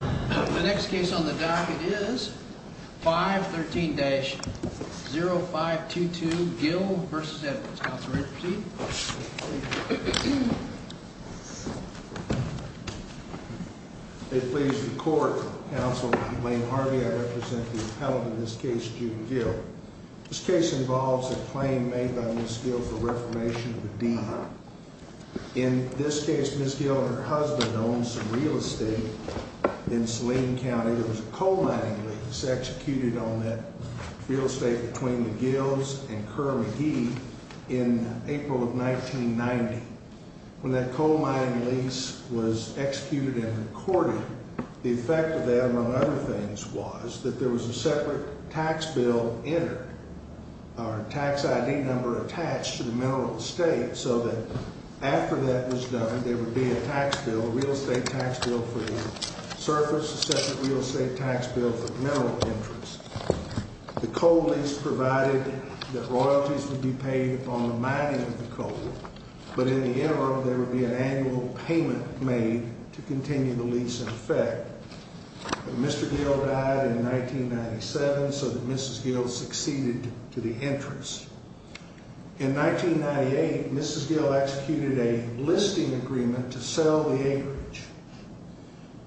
The next case on the docket is 513-0522, Gill v. Edwards. Counselor, at your seat. It please the court, Counsel Lane Harvey. I represent the appellant in this case, June Gill. This case involves a claim made by Ms. Gill for reformation of the deed. In this case, Ms. Gill and her husband owned some real estate in Saline County. There was a coal mining lease executed on that real estate between the Gills and Kerr-McGee in April of 1990. When that coal mining lease was executed and recorded, the effect of that, among other things, was that there was a separate tax bill entered. Our tax ID number attached to the mineral estate so that after that was done, there would be a tax bill, a real estate tax bill for the surface, a separate real estate tax bill for the mineral interest. The coal lease provided that royalties would be paid upon the mining of the coal. But in the interim, there would be an annual payment made to continue the lease in effect. Mr. Gill died in 1997, so that Mrs. Gill succeeded to the interest. In 1998, Mrs. Gill executed a listing agreement to sell the acreage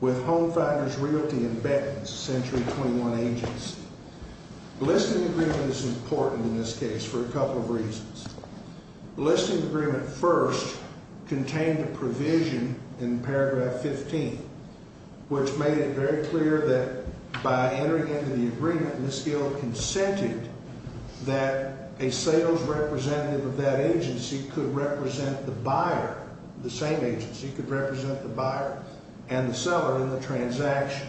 with Home Finders Realty and Bettins, Century 21 agency. The listing agreement is important in this case for a couple of reasons. The listing agreement first contained a provision in paragraph 15, which made it very clear that by entering into the agreement, Mrs. Gill consented that a sales representative of that agency could represent the buyer. The same agency could represent the buyer and the seller in the transaction.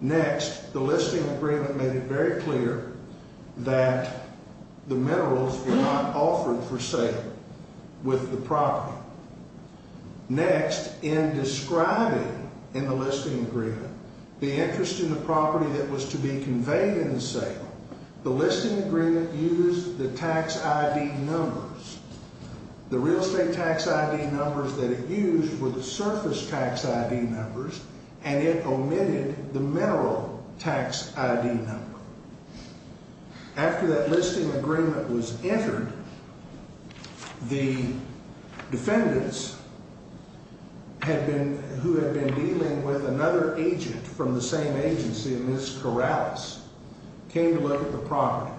Next, the listing agreement made it very clear that the minerals were not offered for sale with the property. Next, in describing in the listing agreement the interest in the property that was to be conveyed in the sale, the listing agreement used the tax ID numbers. The real estate tax ID numbers that it used were the surface tax ID numbers, and it omitted the mineral tax ID number. After that listing agreement was entered, the defendants who had been dealing with another agent from the same agency, Ms. Corrales, came to look at the property.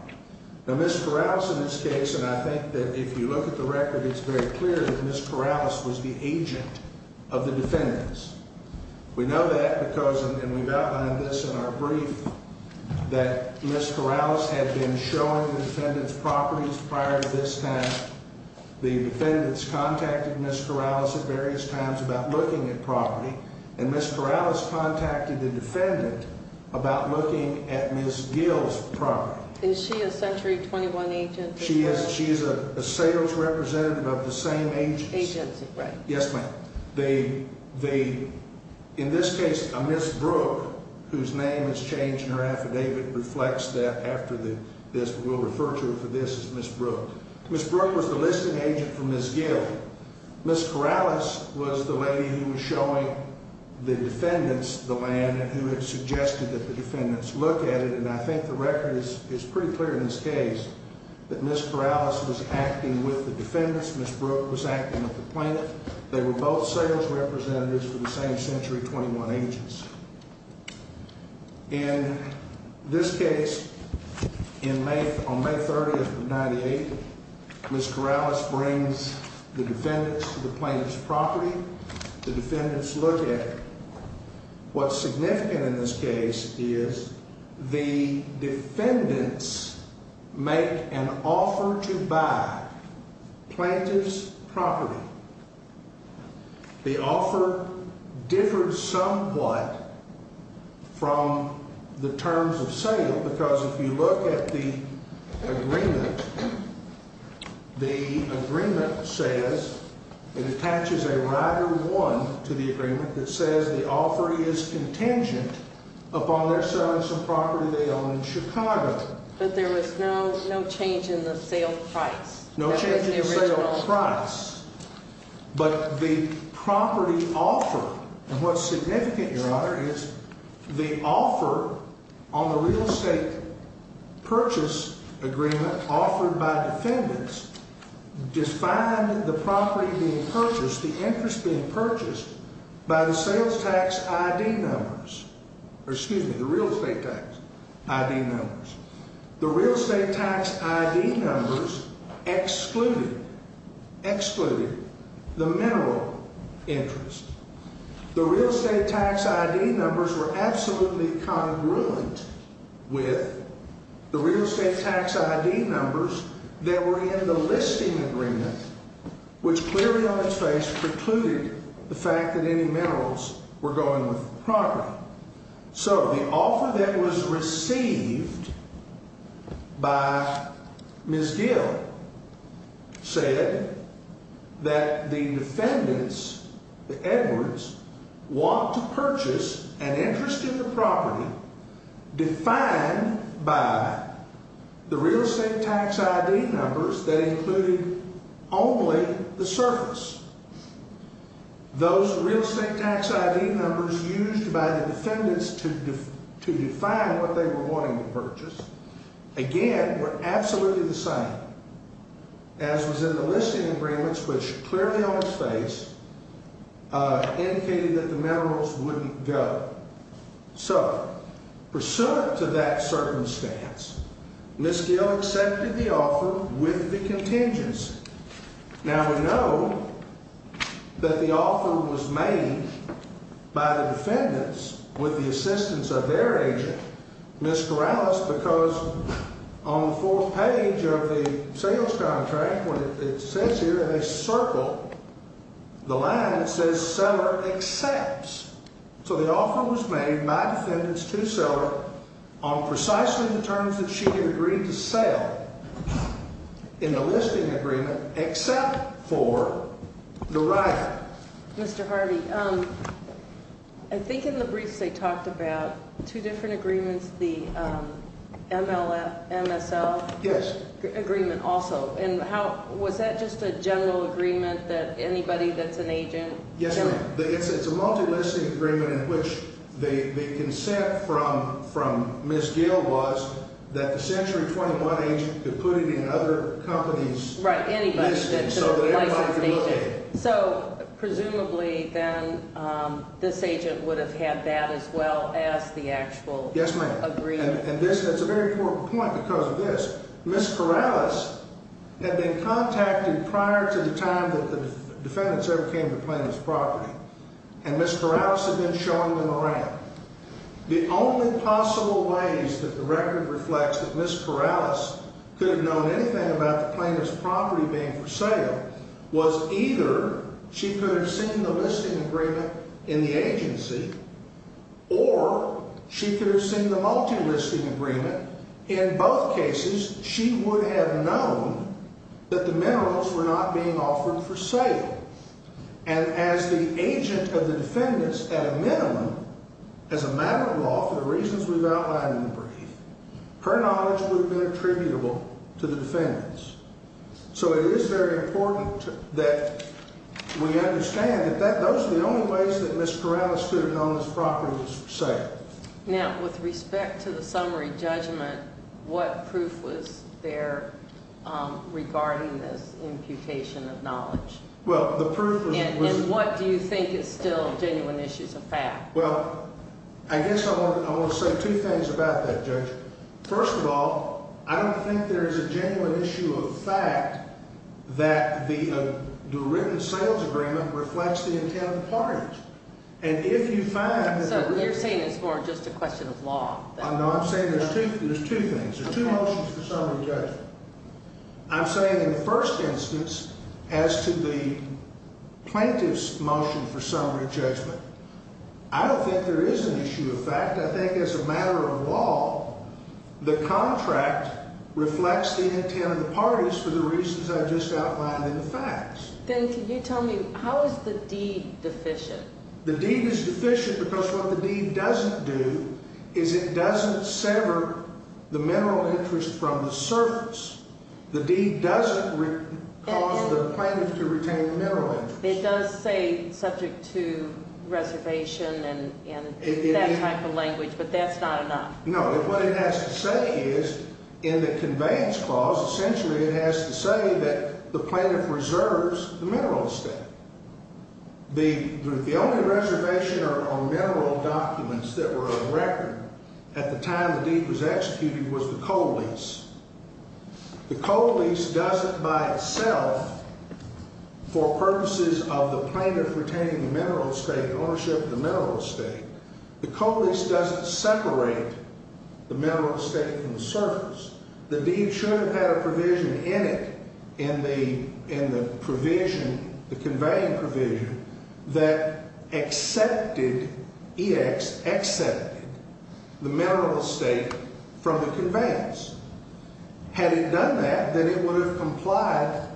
Now, Ms. Corrales in this case, and I think that if you look at the record, it's very clear that Ms. Corrales was the agent of the defendants. We know that because, and we've outlined this in our brief, that Ms. Corrales had been showing the defendants properties prior to this time. The defendants contacted Ms. Corrales at various times about looking at property, and Ms. Corrales contacted the defendant about looking at Ms. Gill's property. Is she a Century 21 agent? She is a sales representative of the same agency. Agency, right. Yes, ma'am. In this case, a Ms. Brooke, whose name has changed in her affidavit, reflects that after this. We'll refer to her for this as Ms. Brooke. Ms. Brooke was the listing agent for Ms. Gill. Ms. Corrales was the lady who was showing the defendants the land and who had suggested that the defendants look at it, and I think the record is pretty clear in this case that Ms. Corrales was acting with the defendants. Ms. Brooke was acting with the plaintiff. They were both sales representatives for the same Century 21 agents. In this case, on May 30th of 1998, Ms. Corrales brings the defendants to the plaintiff's property. The defendants look at it. What's significant in this case is the defendants make an offer to buy plaintiff's property. The offer differed somewhat from the terms of sale because if you look at the agreement, the agreement says it attaches a rider one to the agreement that says the offer is contingent upon their selling some property they own in Chicago. But there was no change in the sale price. No change in the sale price. But the property offer, and what's significant, Your Honor, is the offer on the real estate purchase agreement offered by defendants defined the property being purchased, the interest being purchased by the sales tax ID numbers, or excuse me, the real estate tax ID numbers. The real estate tax ID numbers excluded the mineral interest. The real estate tax ID numbers were absolutely congruent with the real estate tax ID numbers that were in the listing agreement, which clearly on its face precluded the fact that any minerals were going with the property. So the offer that was received by Ms. Gill said that the defendants, the Edwards, want to purchase an interest in the property defined by the real estate tax ID numbers that included only the surface. Those real estate tax ID numbers used by the defendants to define what they were wanting to purchase, again, were absolutely the same as was in the listing agreements, which clearly on its face indicated that the minerals wouldn't go. So pursuant to that circumstance, Ms. Gill accepted the offer with the contingents. Now, we know that the offer was made by the defendants with the assistance of their agent, Ms. Corrales, because on the fourth page of the sales contract when it says here in a circle, the line says seller accepts. So the offer was made by defendants to seller on precisely the terms that she had agreed to sell. In the listing agreement, except for the right. Mr. Harvey, I think in the briefs they talked about two different agreements, the MLS, MSL. Yes. Agreement also. And how, was that just a general agreement that anybody that's an agent? Yes, ma'am. It's a multi-listing agreement in which the consent from Ms. Gill was that the Century 21 agent could put it in other companies' listings so that everybody could look at it. So presumably then this agent would have had that as well as the actual agreement. Yes, ma'am. And that's a very important point because of this. Ms. Corrales had been contacted prior to the time that the defendants ever came to the plaintiff's property, and Ms. Corrales had been showing them around. The only possible ways that the record reflects that Ms. Corrales could have known anything about the plaintiff's property being for sale was either she could have seen the listing agreement in the agency or she could have seen the multi-listing agreement. In both cases, she would have known that the minerals were not being offered for sale. And as the agent of the defendants, at a minimum, as a matter of law for the reasons we've outlined in the brief, her knowledge would have been attributable to the defendants. So it is very important that we understand that those are the only ways that Ms. Corrales could have known this property was for sale. Now, with respect to the summary judgment, what proof was there regarding this imputation of knowledge? Well, the proof was... And what do you think is still genuine issues of fact? Well, I guess I want to say two things about that, Judge. First of all, I don't think there is a genuine issue of fact that the written sales agreement reflects the intent of the parties. And if you find... So you're saying it's more just a question of law? No, I'm saying there's two things. There's two motions for summary judgment. I'm saying in the first instance, as to the plaintiff's motion for summary judgment, I don't think there is an issue of fact. In fact, I think as a matter of law, the contract reflects the intent of the parties for the reasons I just outlined in the facts. Then can you tell me, how is the deed deficient? The deed is deficient because what the deed doesn't do is it doesn't sever the mineral interest from the service. The deed doesn't cause the plaintiff to retain the mineral interest. It does say subject to reservation and that type of language, but that's not enough. No, what it has to say is in the conveyance clause, essentially it has to say that the plaintiff reserves the mineral instead. The only reservation on mineral documents that were on record at the time the deed was executed was the coal lease. The coal lease does it by itself for purposes of the plaintiff retaining the mineral estate, ownership of the mineral estate. The coal lease doesn't separate the mineral estate from the service. The deed should have had a provision in it, in the provision, the conveying provision, that accepted, EX, accepted the mineral estate from the conveyance. Had it done that, then it would have complied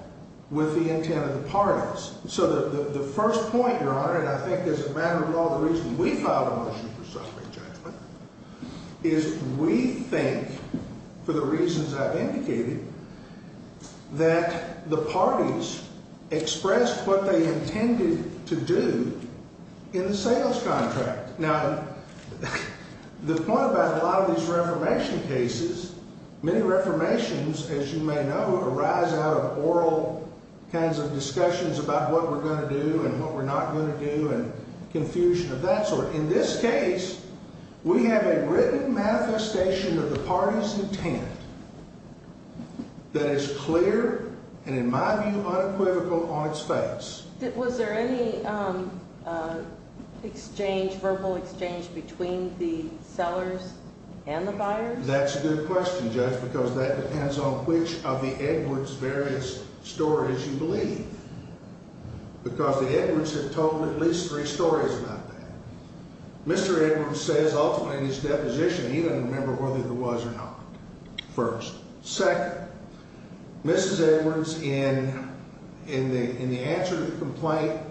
with the intent of the parties. So the first point, Your Honor, and I think as a matter of law the reason we filed a motion for subject judgment is we think, for the reasons I've indicated, that the parties expressed what they intended to do in the sales contract. Now, the point about a lot of these reformation cases, many reformations, as you may know, arise out of oral kinds of discussions about what we're going to do and what we're not going to do and confusion of that sort. In this case, we have a written manifestation of the party's intent that is clear and, in my view, unequivocal on its face. Was there any exchange, verbal exchange, between the sellers and the buyers? That's a good question, Judge, because that depends on which of the Edwards' various stories you believe. Because the Edwards have told at least three stories about that. Mr. Edwards says ultimately in his deposition he doesn't remember whether there was or not, first. Second, Mrs. Edwards, in the answer to the complaint,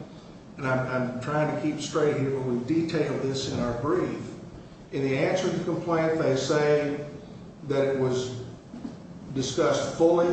and I'm trying to keep straight here, but we've detailed this in our brief. In the answer to the complaint, they say that it was discussed fully,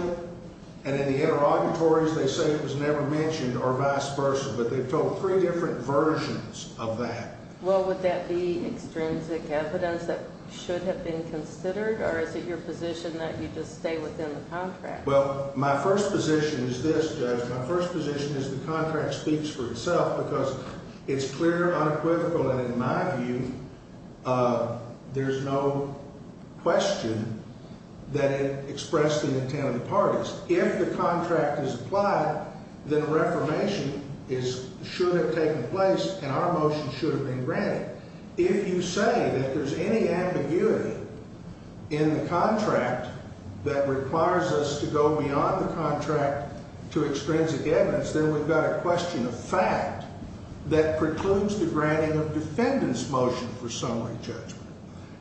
and in the interrogatories they say it was never mentioned or vice versa. But they've told three different versions of that. Well, would that be extrinsic evidence that should have been considered, or is it your position that you just stay within the contract? Well, my first position is this, Judge. My first position is the contract speaks for itself because it's clear, unequivocal, and, in my view, there's no question that it expressed the intent of the parties. If the contract is applied, then a reformation should have taken place and our motion should have been granted. If you say that there's any ambiguity in the contract that requires us to go beyond the contract to extrinsic evidence, then we've got a question of fact that precludes the granting of defendant's motion for summary judgment.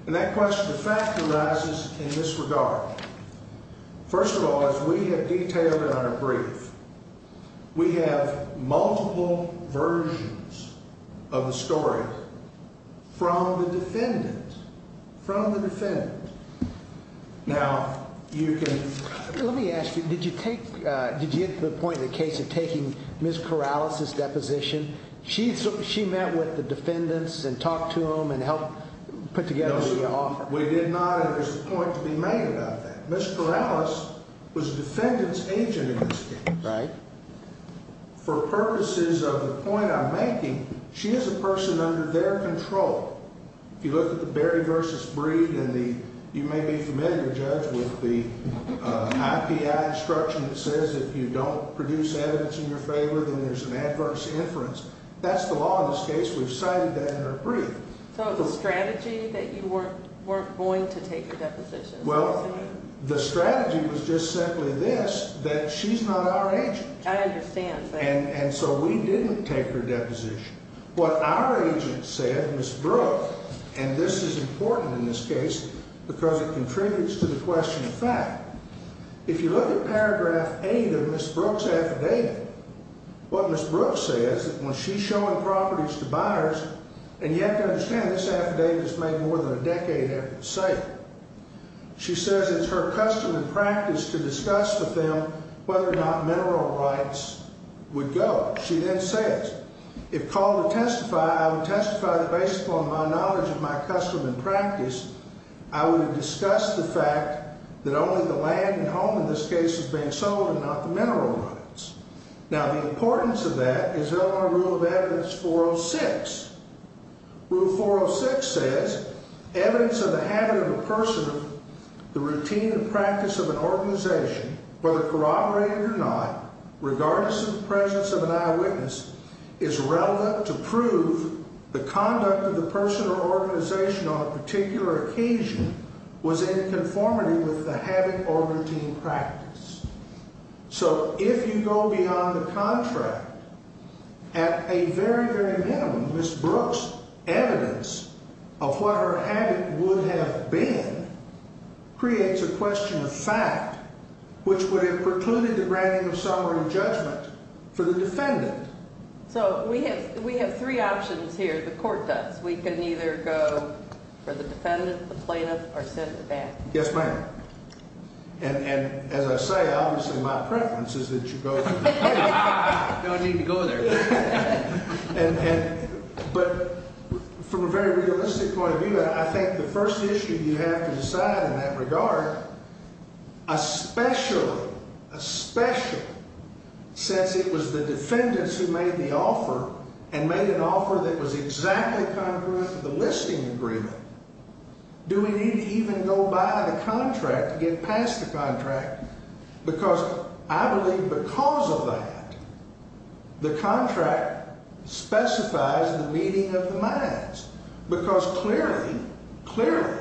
And that question of fact arises in this regard. First of all, as we have detailed in our brief, we have multiple versions of the story from the defendant, from the defendant. Now, you can— Let me ask you, did you take—did you get to the point in the case of taking Ms. Corrales' deposition? She met with the defendants and talked to them and helped put together the offer. We did not, and there's a point to be made about that. Ms. Corrales was a defendant's agent in this case. Right. For purposes of the point I'm making, she is a person under their control. If you look at the Berry v. Breed and the—you may be familiar, Judge, with the IPI instruction that says if you don't produce evidence in your favor, then there's an adverse inference. That's the law in this case. We've cited that in our brief. So it's a strategy that you weren't going to take her deposition? Well, the strategy was just simply this, that she's not our agent. I understand. And so we didn't take her deposition. What our agent said, Ms. Brooke—and this is important in this case because it contributes to the question of fact—if you look at paragraph 8 of Ms. Brooke's affidavit, what Ms. Brooke says, when she's showing properties to buyers—and you have to understand, this affidavit is made more than a decade after the sale. She says it's her custom and practice to discuss with them whether or not mineral rights would go. She then says, Now, the importance of that is in our Rule of Evidence 406. Rule 406 says, So if you go beyond the contract, at a very, very minimum, Ms. Brooke's evidence of what her habit would have been creates a question of fact, which would have precluded the granting of summary judgment for the defendant. So we have three options here. The court does. We can either go for the defendant, the plaintiff, or sit in the back. Yes, ma'am. And as I say, obviously my preference is that you go to the plaintiff. I don't need to go there. But from a very realistic point of view, I think the first issue you have to decide in that regard, especially since it was the defendants who made the offer and made an offer that was exactly congruent to the listing agreement, do we need to even go by the contract to get past the contract? Because I believe because of that, the contract specifies the meeting of the minds. Because clearly, clearly,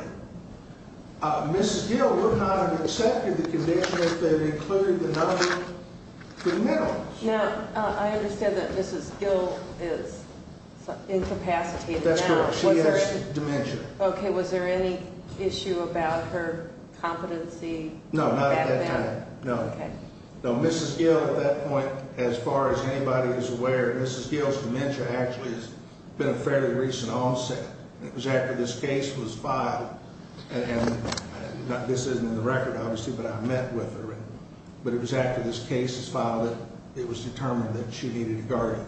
Mrs. Gill would not have accepted the condition if they had included the number for minerals. Now, I understand that Mrs. Gill is incapacitated now. That's correct. She has dementia. Okay. Was there any issue about her competency? No, not at that time. No. Okay. No, Mrs. Gill at that point, as far as anybody is aware, Mrs. Gill's dementia actually has been a fairly recent onset. It was after this case was filed. And this isn't in the record, obviously, but I met with her. But it was after this case was filed that it was determined that she needed a guardian.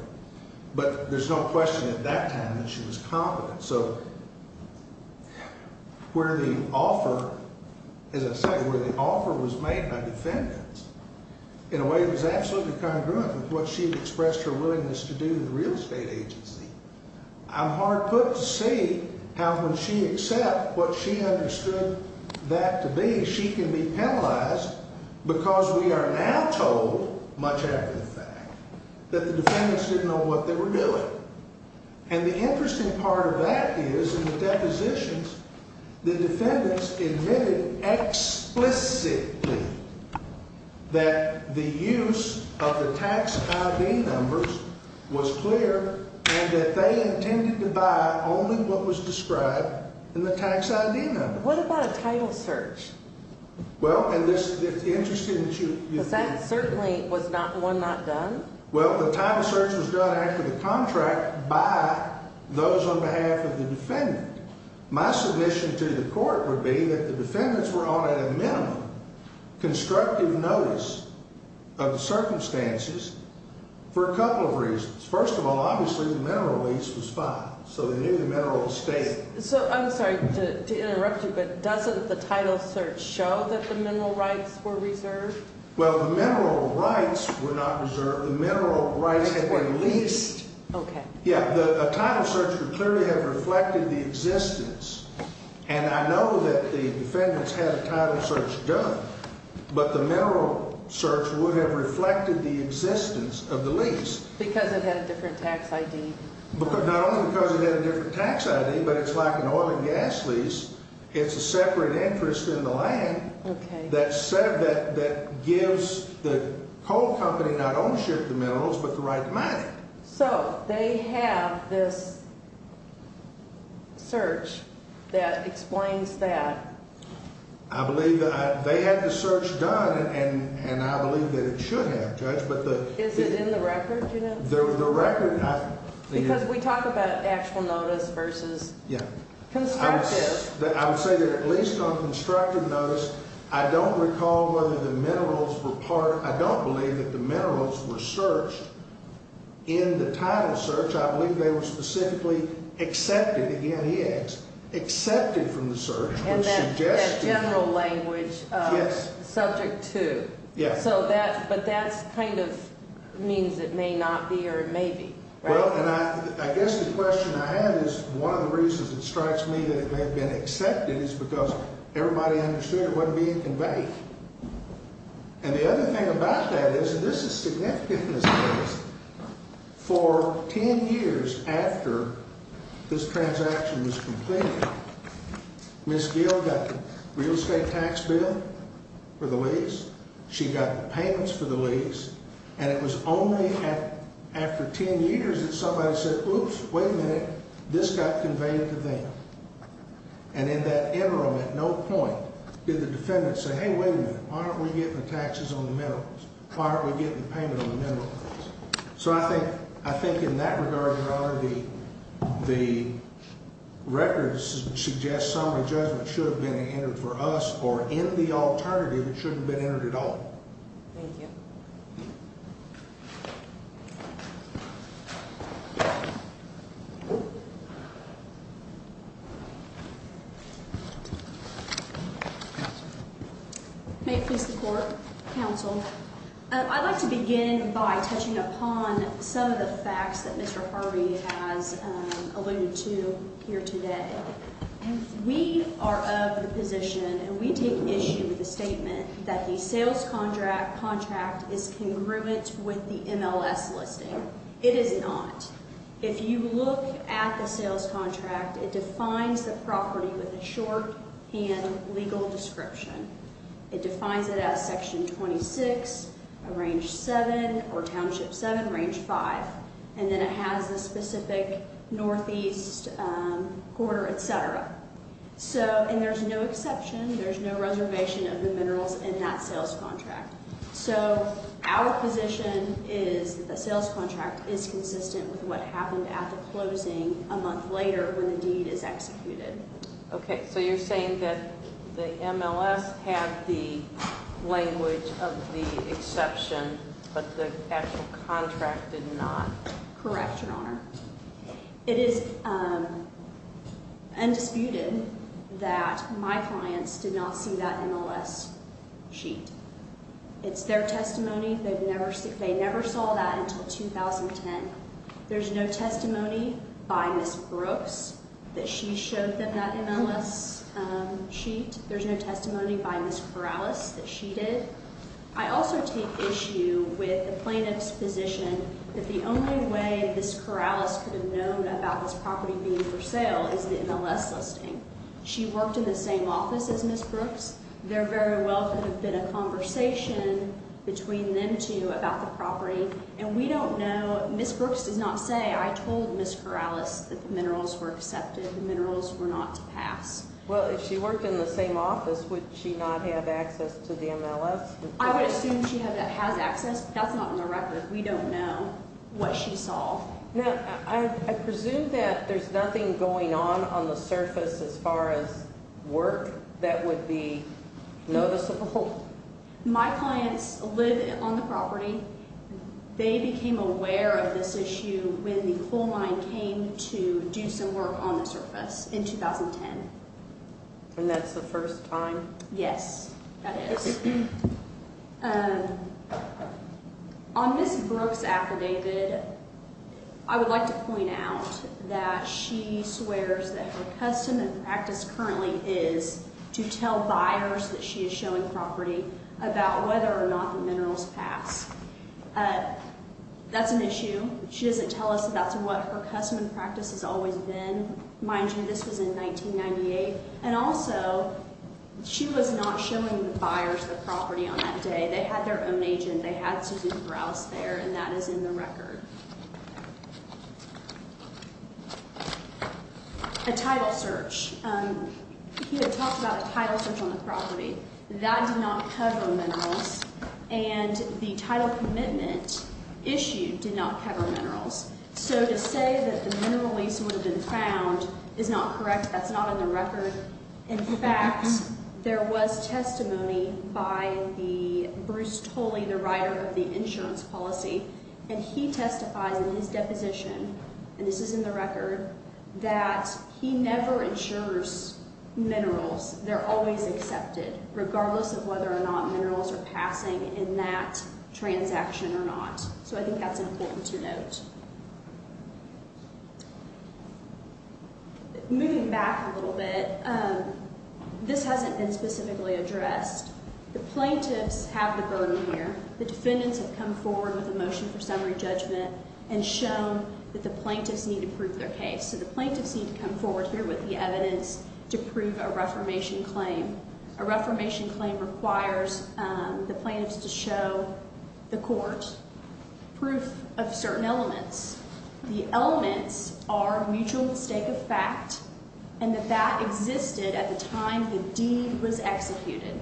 But there's no question at that time that she was competent. So where the offer, as I say, where the offer was made by defendants, in a way it was absolutely congruent with what she had expressed her willingness to do with the real estate agency. I'm hard put to see how when she accepted what she understood that to be, she can be penalized because we are now told, much after the fact, that the defendants didn't know what they were doing. And the interesting part of that is, in the depositions, the defendants admitted explicitly that the use of the tax ID numbers was clear and that they intended to buy only what was described in the tax ID number. What about a title search? Well, and it's interesting that you – Because that certainly was one not done. Well, the title search was done after the contract by those on behalf of the defendant. My submission to the court would be that the defendants were on a minimum constructive notice of the circumstances for a couple of reasons. First of all, obviously, the mineral lease was filed. So they knew the mineral was stated. So, I'm sorry to interrupt you, but doesn't the title search show that the mineral rights were reserved? Well, the mineral rights were not reserved. The mineral rights had been leased. Okay. Yeah, a title search would clearly have reflected the existence. And I know that the defendants had a title search done, but the mineral search would have reflected the existence of the lease. Because it had a different tax ID? Not only because it had a different tax ID, but it's like an oil and gas lease. It's a separate interest in the land that gives the coal company not ownership of the minerals, but the right to mine them. So, they have this search that explains that. I believe that – they had the search done, and I believe that it should have, Judge, but the – Is it in the record, do you know? The record – Because we talk about actual notice versus constructive. I would say that at least on constructive notice, I don't recall whether the minerals were part – I don't believe that the minerals were searched in the title search. I believe they were specifically accepted – again, he asked – accepted from the search. And that general language, subject to. Yes. So that – but that kind of means it may not be or it may be, right? Well, and I guess the question I have is one of the reasons it strikes me that it may have been accepted is because everybody understood it wasn't being conveyed. And the other thing about that is – and this is significant in this case – for 10 years after this transaction was completed, Ms. Gill got the real estate tax bill for the lease. She got the payments for the lease. And it was only after 10 years that somebody said, oops, wait a minute, this got conveyed to them. And in that interim, at no point did the defendant say, hey, wait a minute, why aren't we getting the taxes on the minerals? Why aren't we getting the payment on the minerals? So I think in that regard, Your Honor, the record suggests summary judgment should have been entered for us or in the alternative, it shouldn't have been entered at all. Thank you. May it please the Court. Counsel. I'd like to begin by touching upon some of the facts that Mr. Harvey has alluded to here today. We are of the position, and we take issue with the statement, that the sales contract is congruent with the MLS listing. It is not. If you look at the sales contract, it defines the property with a shorthand legal description. It defines it as section 26, range 7, or township 7, range 5. And then it has the specific northeast quarter, et cetera. And there's no exception, there's no reservation of the minerals in that sales contract. So our position is that the sales contract is consistent with what happened at the closing a month later when the deed is executed. Okay. So you're saying that the MLS had the language of the exception, but the actual contract did not? Correct, Your Honor. It is undisputed that my clients did not see that MLS sheet. It's their testimony. They never saw that until 2010. There's no testimony by Ms. Brooks that she showed them that MLS sheet. There's no testimony by Ms. Corrales that she did. I also take issue with the plaintiff's position that the only way Ms. Corrales could have known about this property being for sale is the MLS listing. She worked in the same office as Ms. Brooks. There very well could have been a conversation between them two about the property. And we don't know, Ms. Brooks did not say, I told Ms. Corrales that the minerals were accepted, the minerals were not to pass. Well, if she worked in the same office, would she not have access to the MLS? I would assume she has access, but that's not on the record. We don't know what she saw. Now, I presume that there's nothing going on on the surface as far as work that would be noticeable? My clients live on the property. They became aware of this issue when the coal mine came to do some work on the surface in 2010. And that's the first time? Yes, that is. On Ms. Brooks' affidavit, I would like to point out that she swears that her custom and practice currently is to tell buyers that she is showing property about whether or not the minerals pass. That's an issue. She doesn't tell us that's what her custom and practice has always been. Mind you, this was in 1998. And also, she was not showing the buyers the property on that day. They had their own agent. They had Susan Corrales there, and that is in the record. A title search. He had talked about a title search on the property. That did not cover minerals, and the title commitment issue did not cover minerals. So to say that the mineral lease would have been found is not correct. That's not in the record. In fact, there was testimony by Bruce Toley, the writer of the insurance policy, and he testifies in his deposition, and this is in the record, that he never insures minerals. They're always accepted, regardless of whether or not minerals are passing in that transaction or not. So I think that's important to note. Moving back a little bit, this hasn't been specifically addressed. The plaintiffs have the burden here. The defendants have come forward with a motion for summary judgment and shown that the plaintiffs need to prove their case. So the plaintiffs need to come forward here with the evidence to prove a reformation claim. A reformation claim requires the plaintiffs to show the court proof of certain elements. The elements are mutual mistake of fact and that that existed at the time the deed was executed.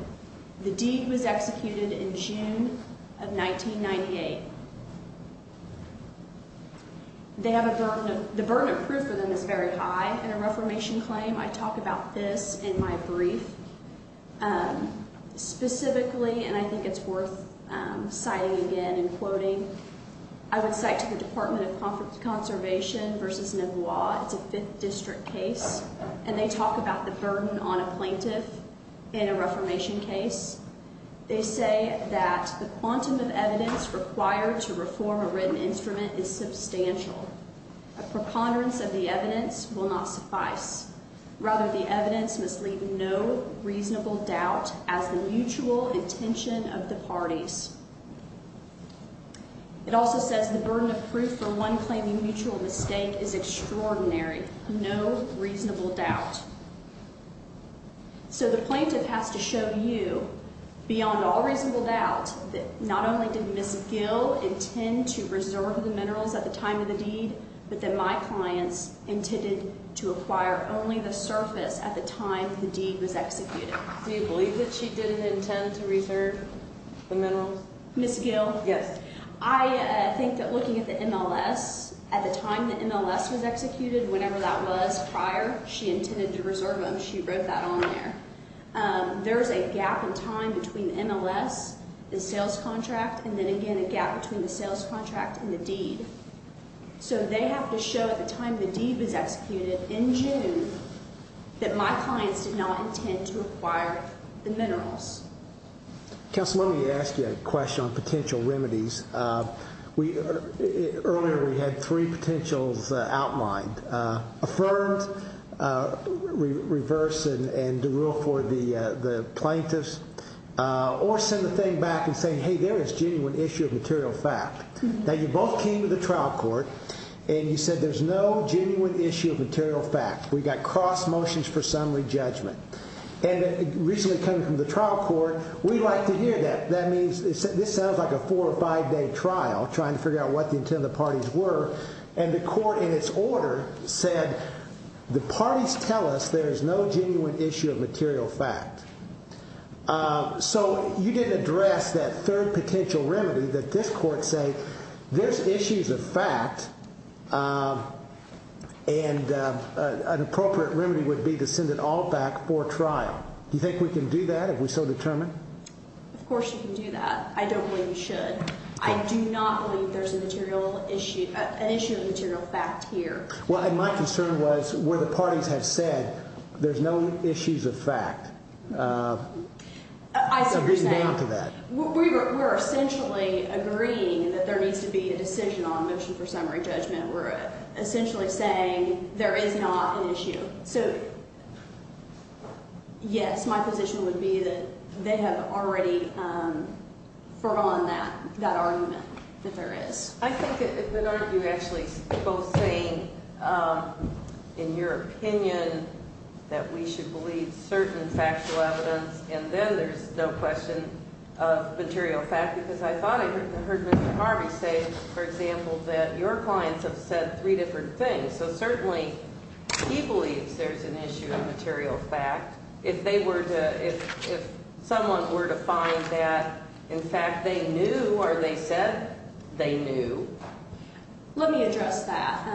The deed was executed in June of 1998. The burden of proof for them is very high in a reformation claim. I talk about this in my brief. Specifically, and I think it's worth citing again and quoting, I would cite to the Department of Conservation v. Novois. It's a fifth district case, and they talk about the burden on a plaintiff in a reformation case. They say that the quantum of evidence required to reform a written instrument is substantial. A preponderance of the evidence will not suffice. Rather, the evidence must leave no reasonable doubt as the mutual intention of the parties. It also says the burden of proof for one claiming mutual mistake is extraordinary, no reasonable doubt. So the plaintiff has to show you beyond all reasonable doubt that not only did Ms. Gill intend to reserve the minerals at the time of the deed, but that my clients intended to acquire only the surface at the time the deed was executed. Do you believe that she didn't intend to reserve the minerals? Ms. Gill? Yes. I think that looking at the MLS, at the time the MLS was executed, whenever that was prior, she intended to reserve them. She wrote that on there. There's a gap in time between the MLS, the sales contract, and then again a gap between the sales contract and the deed. So they have to show at the time the deed was executed in June that my clients did not intend to acquire the minerals. Counsel, let me ask you a question on potential remedies. Earlier we had three potentials outlined. Affirmed, reverse and derail for the plaintiffs, or send the thing back and say, hey, there is genuine issue of material fact. Now, you both came to the trial court and you said there's no genuine issue of material fact. We got cross motions for summary judgment. And recently coming from the trial court, we'd like to hear that. That means this sounds like a four or five day trial trying to figure out what the intent of the parties were. And the court in its order said the parties tell us there is no genuine issue of material fact. So you didn't address that third potential remedy that this court say there's issues of fact and an appropriate remedy would be to send it all back for trial. Do you think we can do that if we're so determined? Of course you can do that. I don't believe you should. I do not believe there's a material issue, an issue of material fact here. Well, my concern was where the parties have said there's no issues of fact. I see what you're saying. We're essentially agreeing that there needs to be a decision on motion for summary judgment. We're essentially saying there is not an issue. So, yes, my position would be that they have already foregone that argument that there is. I think it would argue actually both saying, in your opinion, that we should believe certain factual evidence, and then there's no question of material fact. Because I thought I heard Mr. Harvey say, for example, that your clients have said three different things. So certainly he believes there's an issue of material fact. If they were to, if someone were to find that, in fact, they knew or they said they knew. Let me address that.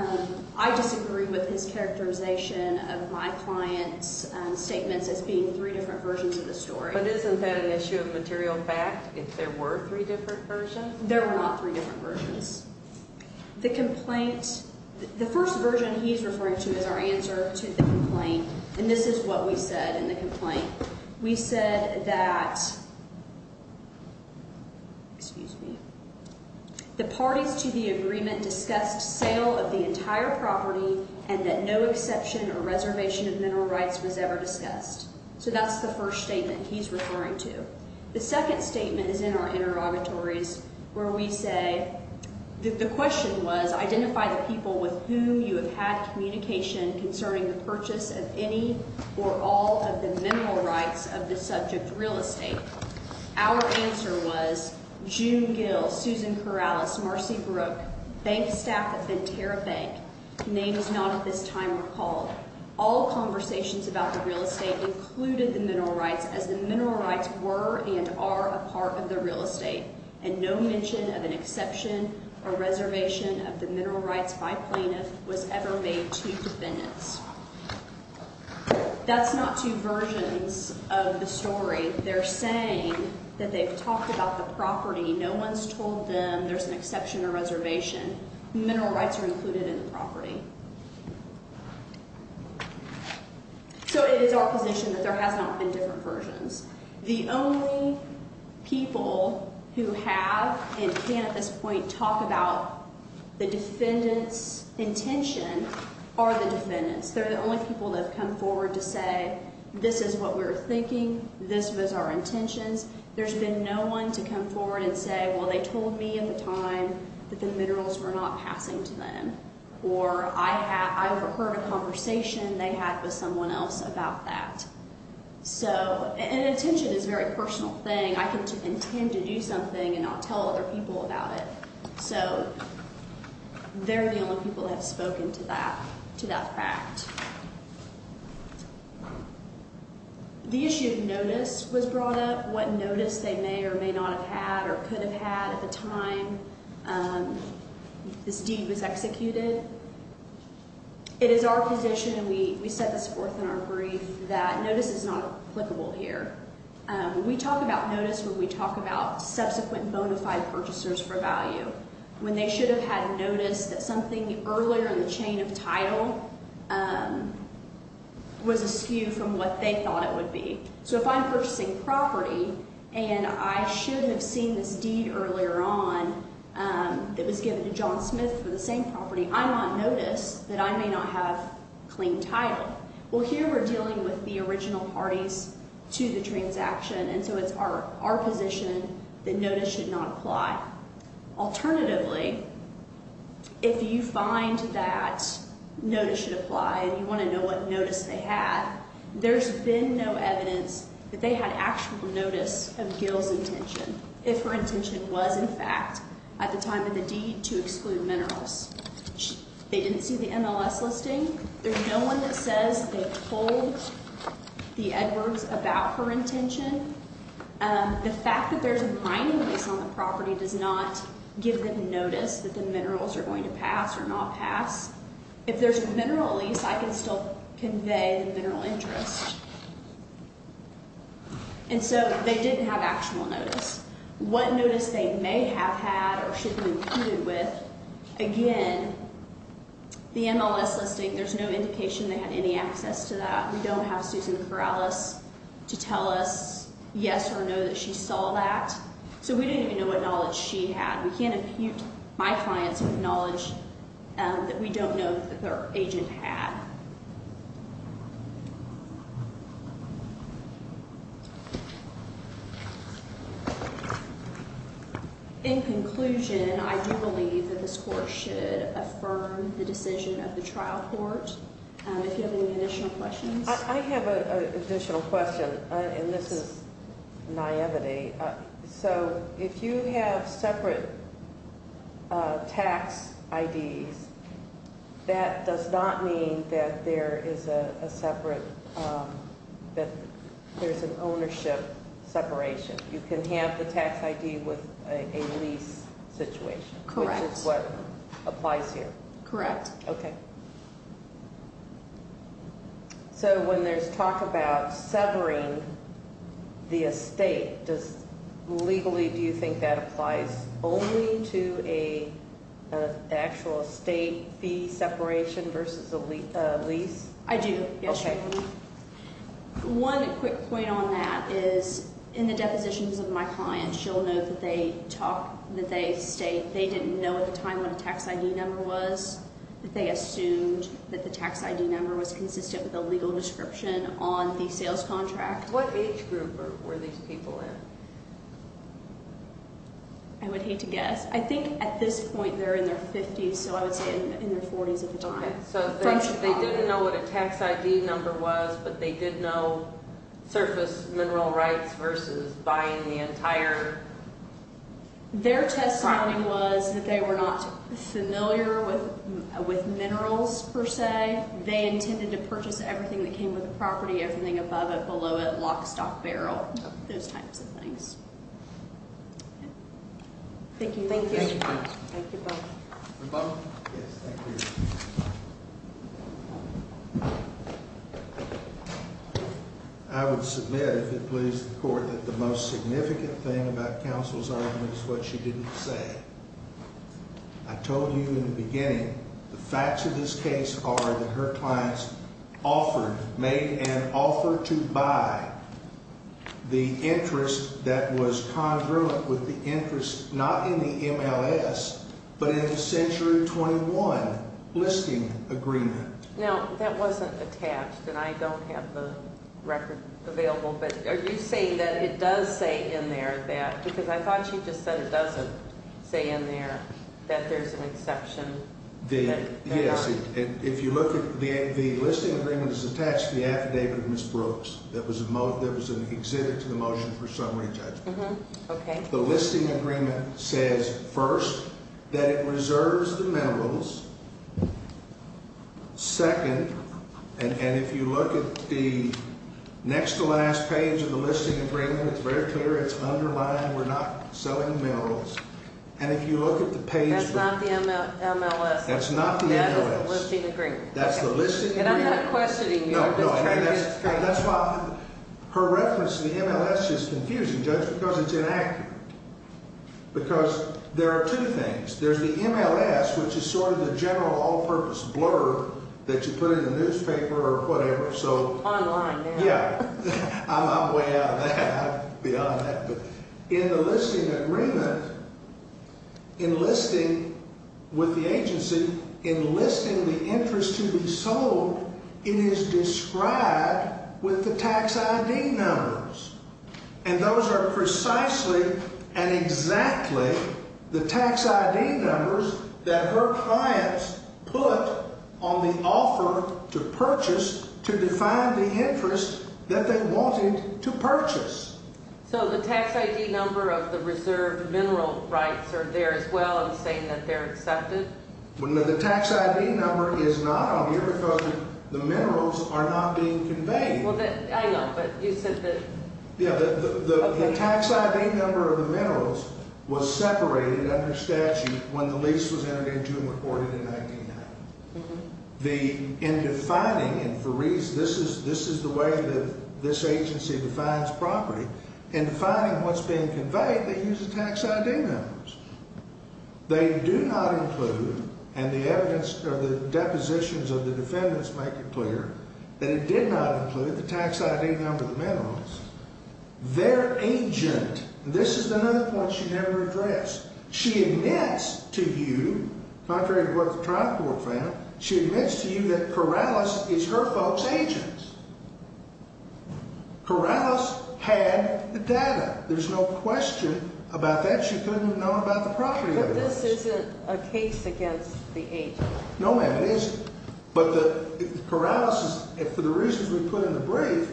I disagree with his characterization of my client's statements as being three different versions of the story. But isn't that an issue of material fact, if there were three different versions? There were not three different versions. The complaint, the first version he's referring to is our answer to the complaint. And this is what we said in the complaint. We said that, excuse me, the parties to the agreement discussed sale of the entire property and that no exception or reservation of mineral rights was ever discussed. So that's the first statement he's referring to. The second statement is in our interrogatories where we say that the question was, identify the people with whom you have had communication concerning the purchase of any or all of the mineral rights of the subject real estate. Our answer was June Gill, Susan Corrales, Marcy Brooke, bank staff at Ventura Bank. Names not at this time recalled. All conversations about the real estate included the mineral rights as the mineral rights were and are a part of the real estate. And no mention of an exception or reservation of the mineral rights by plaintiff was ever made to defendants. That's not two versions of the story. They're saying that they've talked about the property. No one's told them there's an exception or reservation. Mineral rights are included in the property. So it is our position that there has not been different versions. The only people who have and can at this point talk about the defendant's intention are the defendants. They're the only people that have come forward to say this is what we're thinking. This was our intentions. There's been no one to come forward and say, well, they told me at the time that the minerals were not passing to them. Or I have heard a conversation they had with someone else about that. So, and attention is a very personal thing. I can intend to do something and not tell other people about it. So they're the only people that have spoken to that fact. The issue of notice was brought up. What notice they may or may not have had or could have had at the time this deed was executed. It is our position, and we set this forth in our brief, that notice is not applicable here. We talk about notice when we talk about subsequent bona fide purchasers for value. When they should have had notice that something earlier in the chain of title was askew from what they thought it would be. So if I'm purchasing property and I shouldn't have seen this deed earlier on that was given to John Smith for the same property, I want notice that I may not have clean title. Well, here we're dealing with the original parties to the transaction, and so it's our position that notice should not apply. Alternatively, if you find that notice should apply and you want to know what notice they had, there's been no evidence that they had actual notice of Gil's intention, if her intention was, in fact, at the time of the deed to exclude minerals. They didn't see the MLS listing. There's no one that says they told the Edwards about her intention. The fact that there's a mining lease on the property does not give them notice that the minerals are going to pass or not pass. If there's a mineral lease, I can still convey the mineral interest. And so they didn't have actual notice. What notice they may have had or should have been imputed with, again, the MLS listing, there's no indication they had any access to that. We don't have Susan Corrales to tell us yes or no that she saw that. So we don't even know what knowledge she had. We can't impute my clients with knowledge that we don't know that their agent had. In conclusion, I do believe that this Court should affirm the decision of the trial court. If you have any additional questions. I have an additional question, and this is naivety. So if you have separate tax IDs, that does not mean that there is a separate, that there's an ownership separation. You can have the tax ID with a lease situation. Correct. Which is what applies here. Correct. Okay. So when there's talk about severing the estate, legally do you think that applies only to an actual estate fee separation versus a lease? I do, yes. Okay. One quick point on that is in the depositions of my clients, you'll note that they state they didn't know at the time what a tax ID number was. They assumed that the tax ID number was consistent with a legal description on the sales contract. What age group were these people in? I would hate to guess. I think at this point they're in their 50s, so I would say in their 40s at the time. Okay. So they didn't know what a tax ID number was, but they did know surface mineral rights versus buying the entire property. Their accounting was that they were not familiar with minerals per se. They intended to purchase everything that came with the property, everything above it, below it, lock, stock, barrel, those types of things. Thank you. Thank you. Thank you both. Yes, thank you. I would submit, if it pleases the Court, that the most significant thing about Counsel's argument is what she didn't say. I told you in the beginning the facts of this case are that her clients offered, made an offer to buy the interest that was congruent with the interest not in the MLS but in the Century 21 listing agreement. Now, that wasn't attached, and I don't have the record available, but are you saying that it does say in there that, because I thought she just said it doesn't say in there that there's an exception? Yes. If you look at the listing agreement, it's attached to the affidavit of Ms. Brooks that was an exhibit to the motion for summary judgment. Okay. The listing agreement says, first, that it reserves the minerals, second, and if you look at the next to last page of the listing agreement, it's very clear, it's underlined, we're not selling minerals. And if you look at the page. That's not the MLS. That's not the MLS. That is the listing agreement. That's the listing agreement. And I'm not questioning you. No, no. That's why her reference to the MLS is confusing, Judge, because it's inaccurate. Because there are two things. There's the MLS, which is sort of the general all-purpose blurb that you put in the newspaper or whatever, so. Online now. Yeah. I'm way out of that. I'm beyond that. In the listing agreement, in listing with the agency, in listing the interest to be sold, it is described with the tax ID numbers. And those are precisely and exactly the tax ID numbers that her clients put on the offer to purchase to define the interest that they wanted to purchase. So the tax ID number of the reserved mineral rights are there as well in saying that they're accepted? The tax ID number is not on here because the minerals are not being conveyed. Well, hang on. But you said that. Yeah. The tax ID number of the minerals was separated under statute when the lease was entered into and recorded in 1990. In defining, and for reasons, this is the way that this agency defines property. In defining what's being conveyed, they use the tax ID numbers. They do not include, and the evidence or the depositions of the defendants make it clear, that it did not include the tax ID number of the minerals. Their agent, and this is another point she never addressed, she admits to you, contrary to what the trial court found, she admits to you that Corrales is her folks' agent. Corrales had the data. There's no question about that. She couldn't have known about the property of those. But this isn't a case against the agent. No, ma'am, it isn't. But Corrales, for the reasons we put in the brief,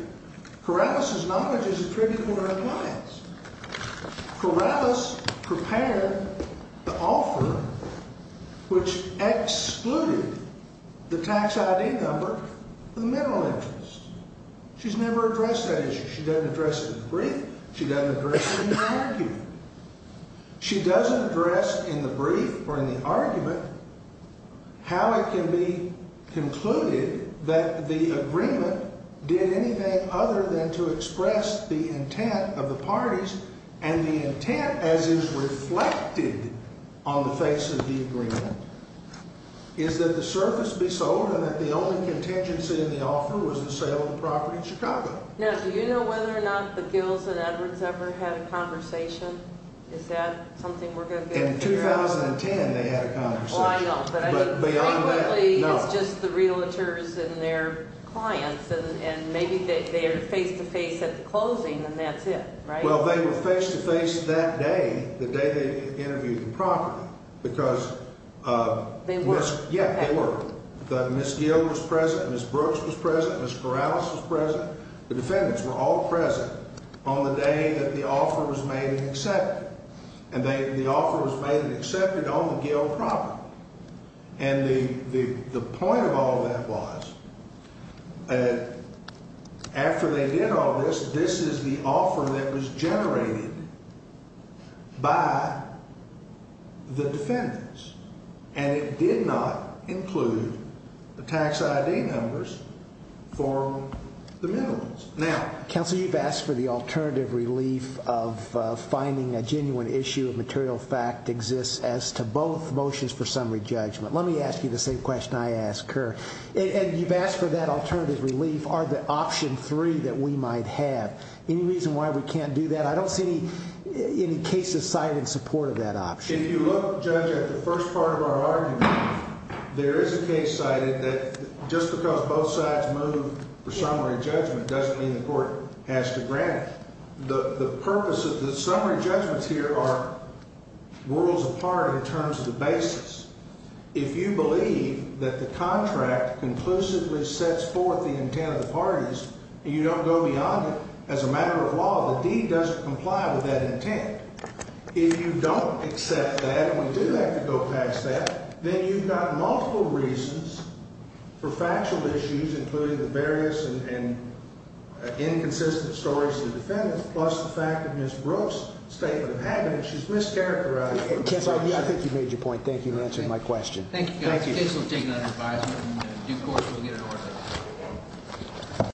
Corrales' knowledge is attributed to her clients. Corrales prepared the offer which excluded the tax ID number of the mineral interest. She's never addressed that issue. She doesn't address it in the brief. She doesn't address it in the argument. She doesn't address in the brief or in the argument how it can be concluded that the agreement did anything other than to express the intent of the parties. And the intent, as is reflected on the face of the agreement, is that the surface be sold and that the only contingency in the offer was the sale of the property in Chicago. Now, do you know whether or not the Gills and Edwards ever had a conversation? Is that something we're going to get to figure out? In 2010, they had a conversation. Oh, I know. But I think frequently it's just the realtors and their clients. And maybe they are face-to-face at the closing and that's it, right? Well, they were face-to-face that day, the day they interviewed the property. Because they were. Yes, they were. Ms. Gill was present. Ms. Brooks was present. Ms. Corrales was present. The defendants were all present on the day that the offer was made and accepted. And the offer was made and accepted on the Gill property. And the point of all that was after they did all this, this is the offer that was generated by the defendants. And it did not include the tax ID numbers for the minimums. Now, Counsel, you've asked for the alternative relief of finding a genuine issue of material fact exists as to both motions for summary judgment. Let me ask you the same question I asked Kerr. And you've asked for that alternative relief. Are the option three that we might have any reason why we can't do that? I don't see any cases cited in support of that option. If you look, Judge, at the first part of our argument, there is a case cited that just because both sides move for summary judgment doesn't mean the court has to grant it. The purpose of the summary judgments here are worlds apart in terms of the basis. If you believe that the contract conclusively sets forth the intent of the parties and you don't go beyond it, as a matter of law, the deed doesn't comply with that intent. If you don't accept that and we do have to go past that, then you've got multiple reasons for factual issues, including the various and inconsistent stories of the defendants, plus the fact that Ms. Brooks' statement of evidence is mischaracterized. I think you made your point. Thank you for answering my question. Thank you. Thank you. The case will take another advisement. In due course, we'll get it ordered.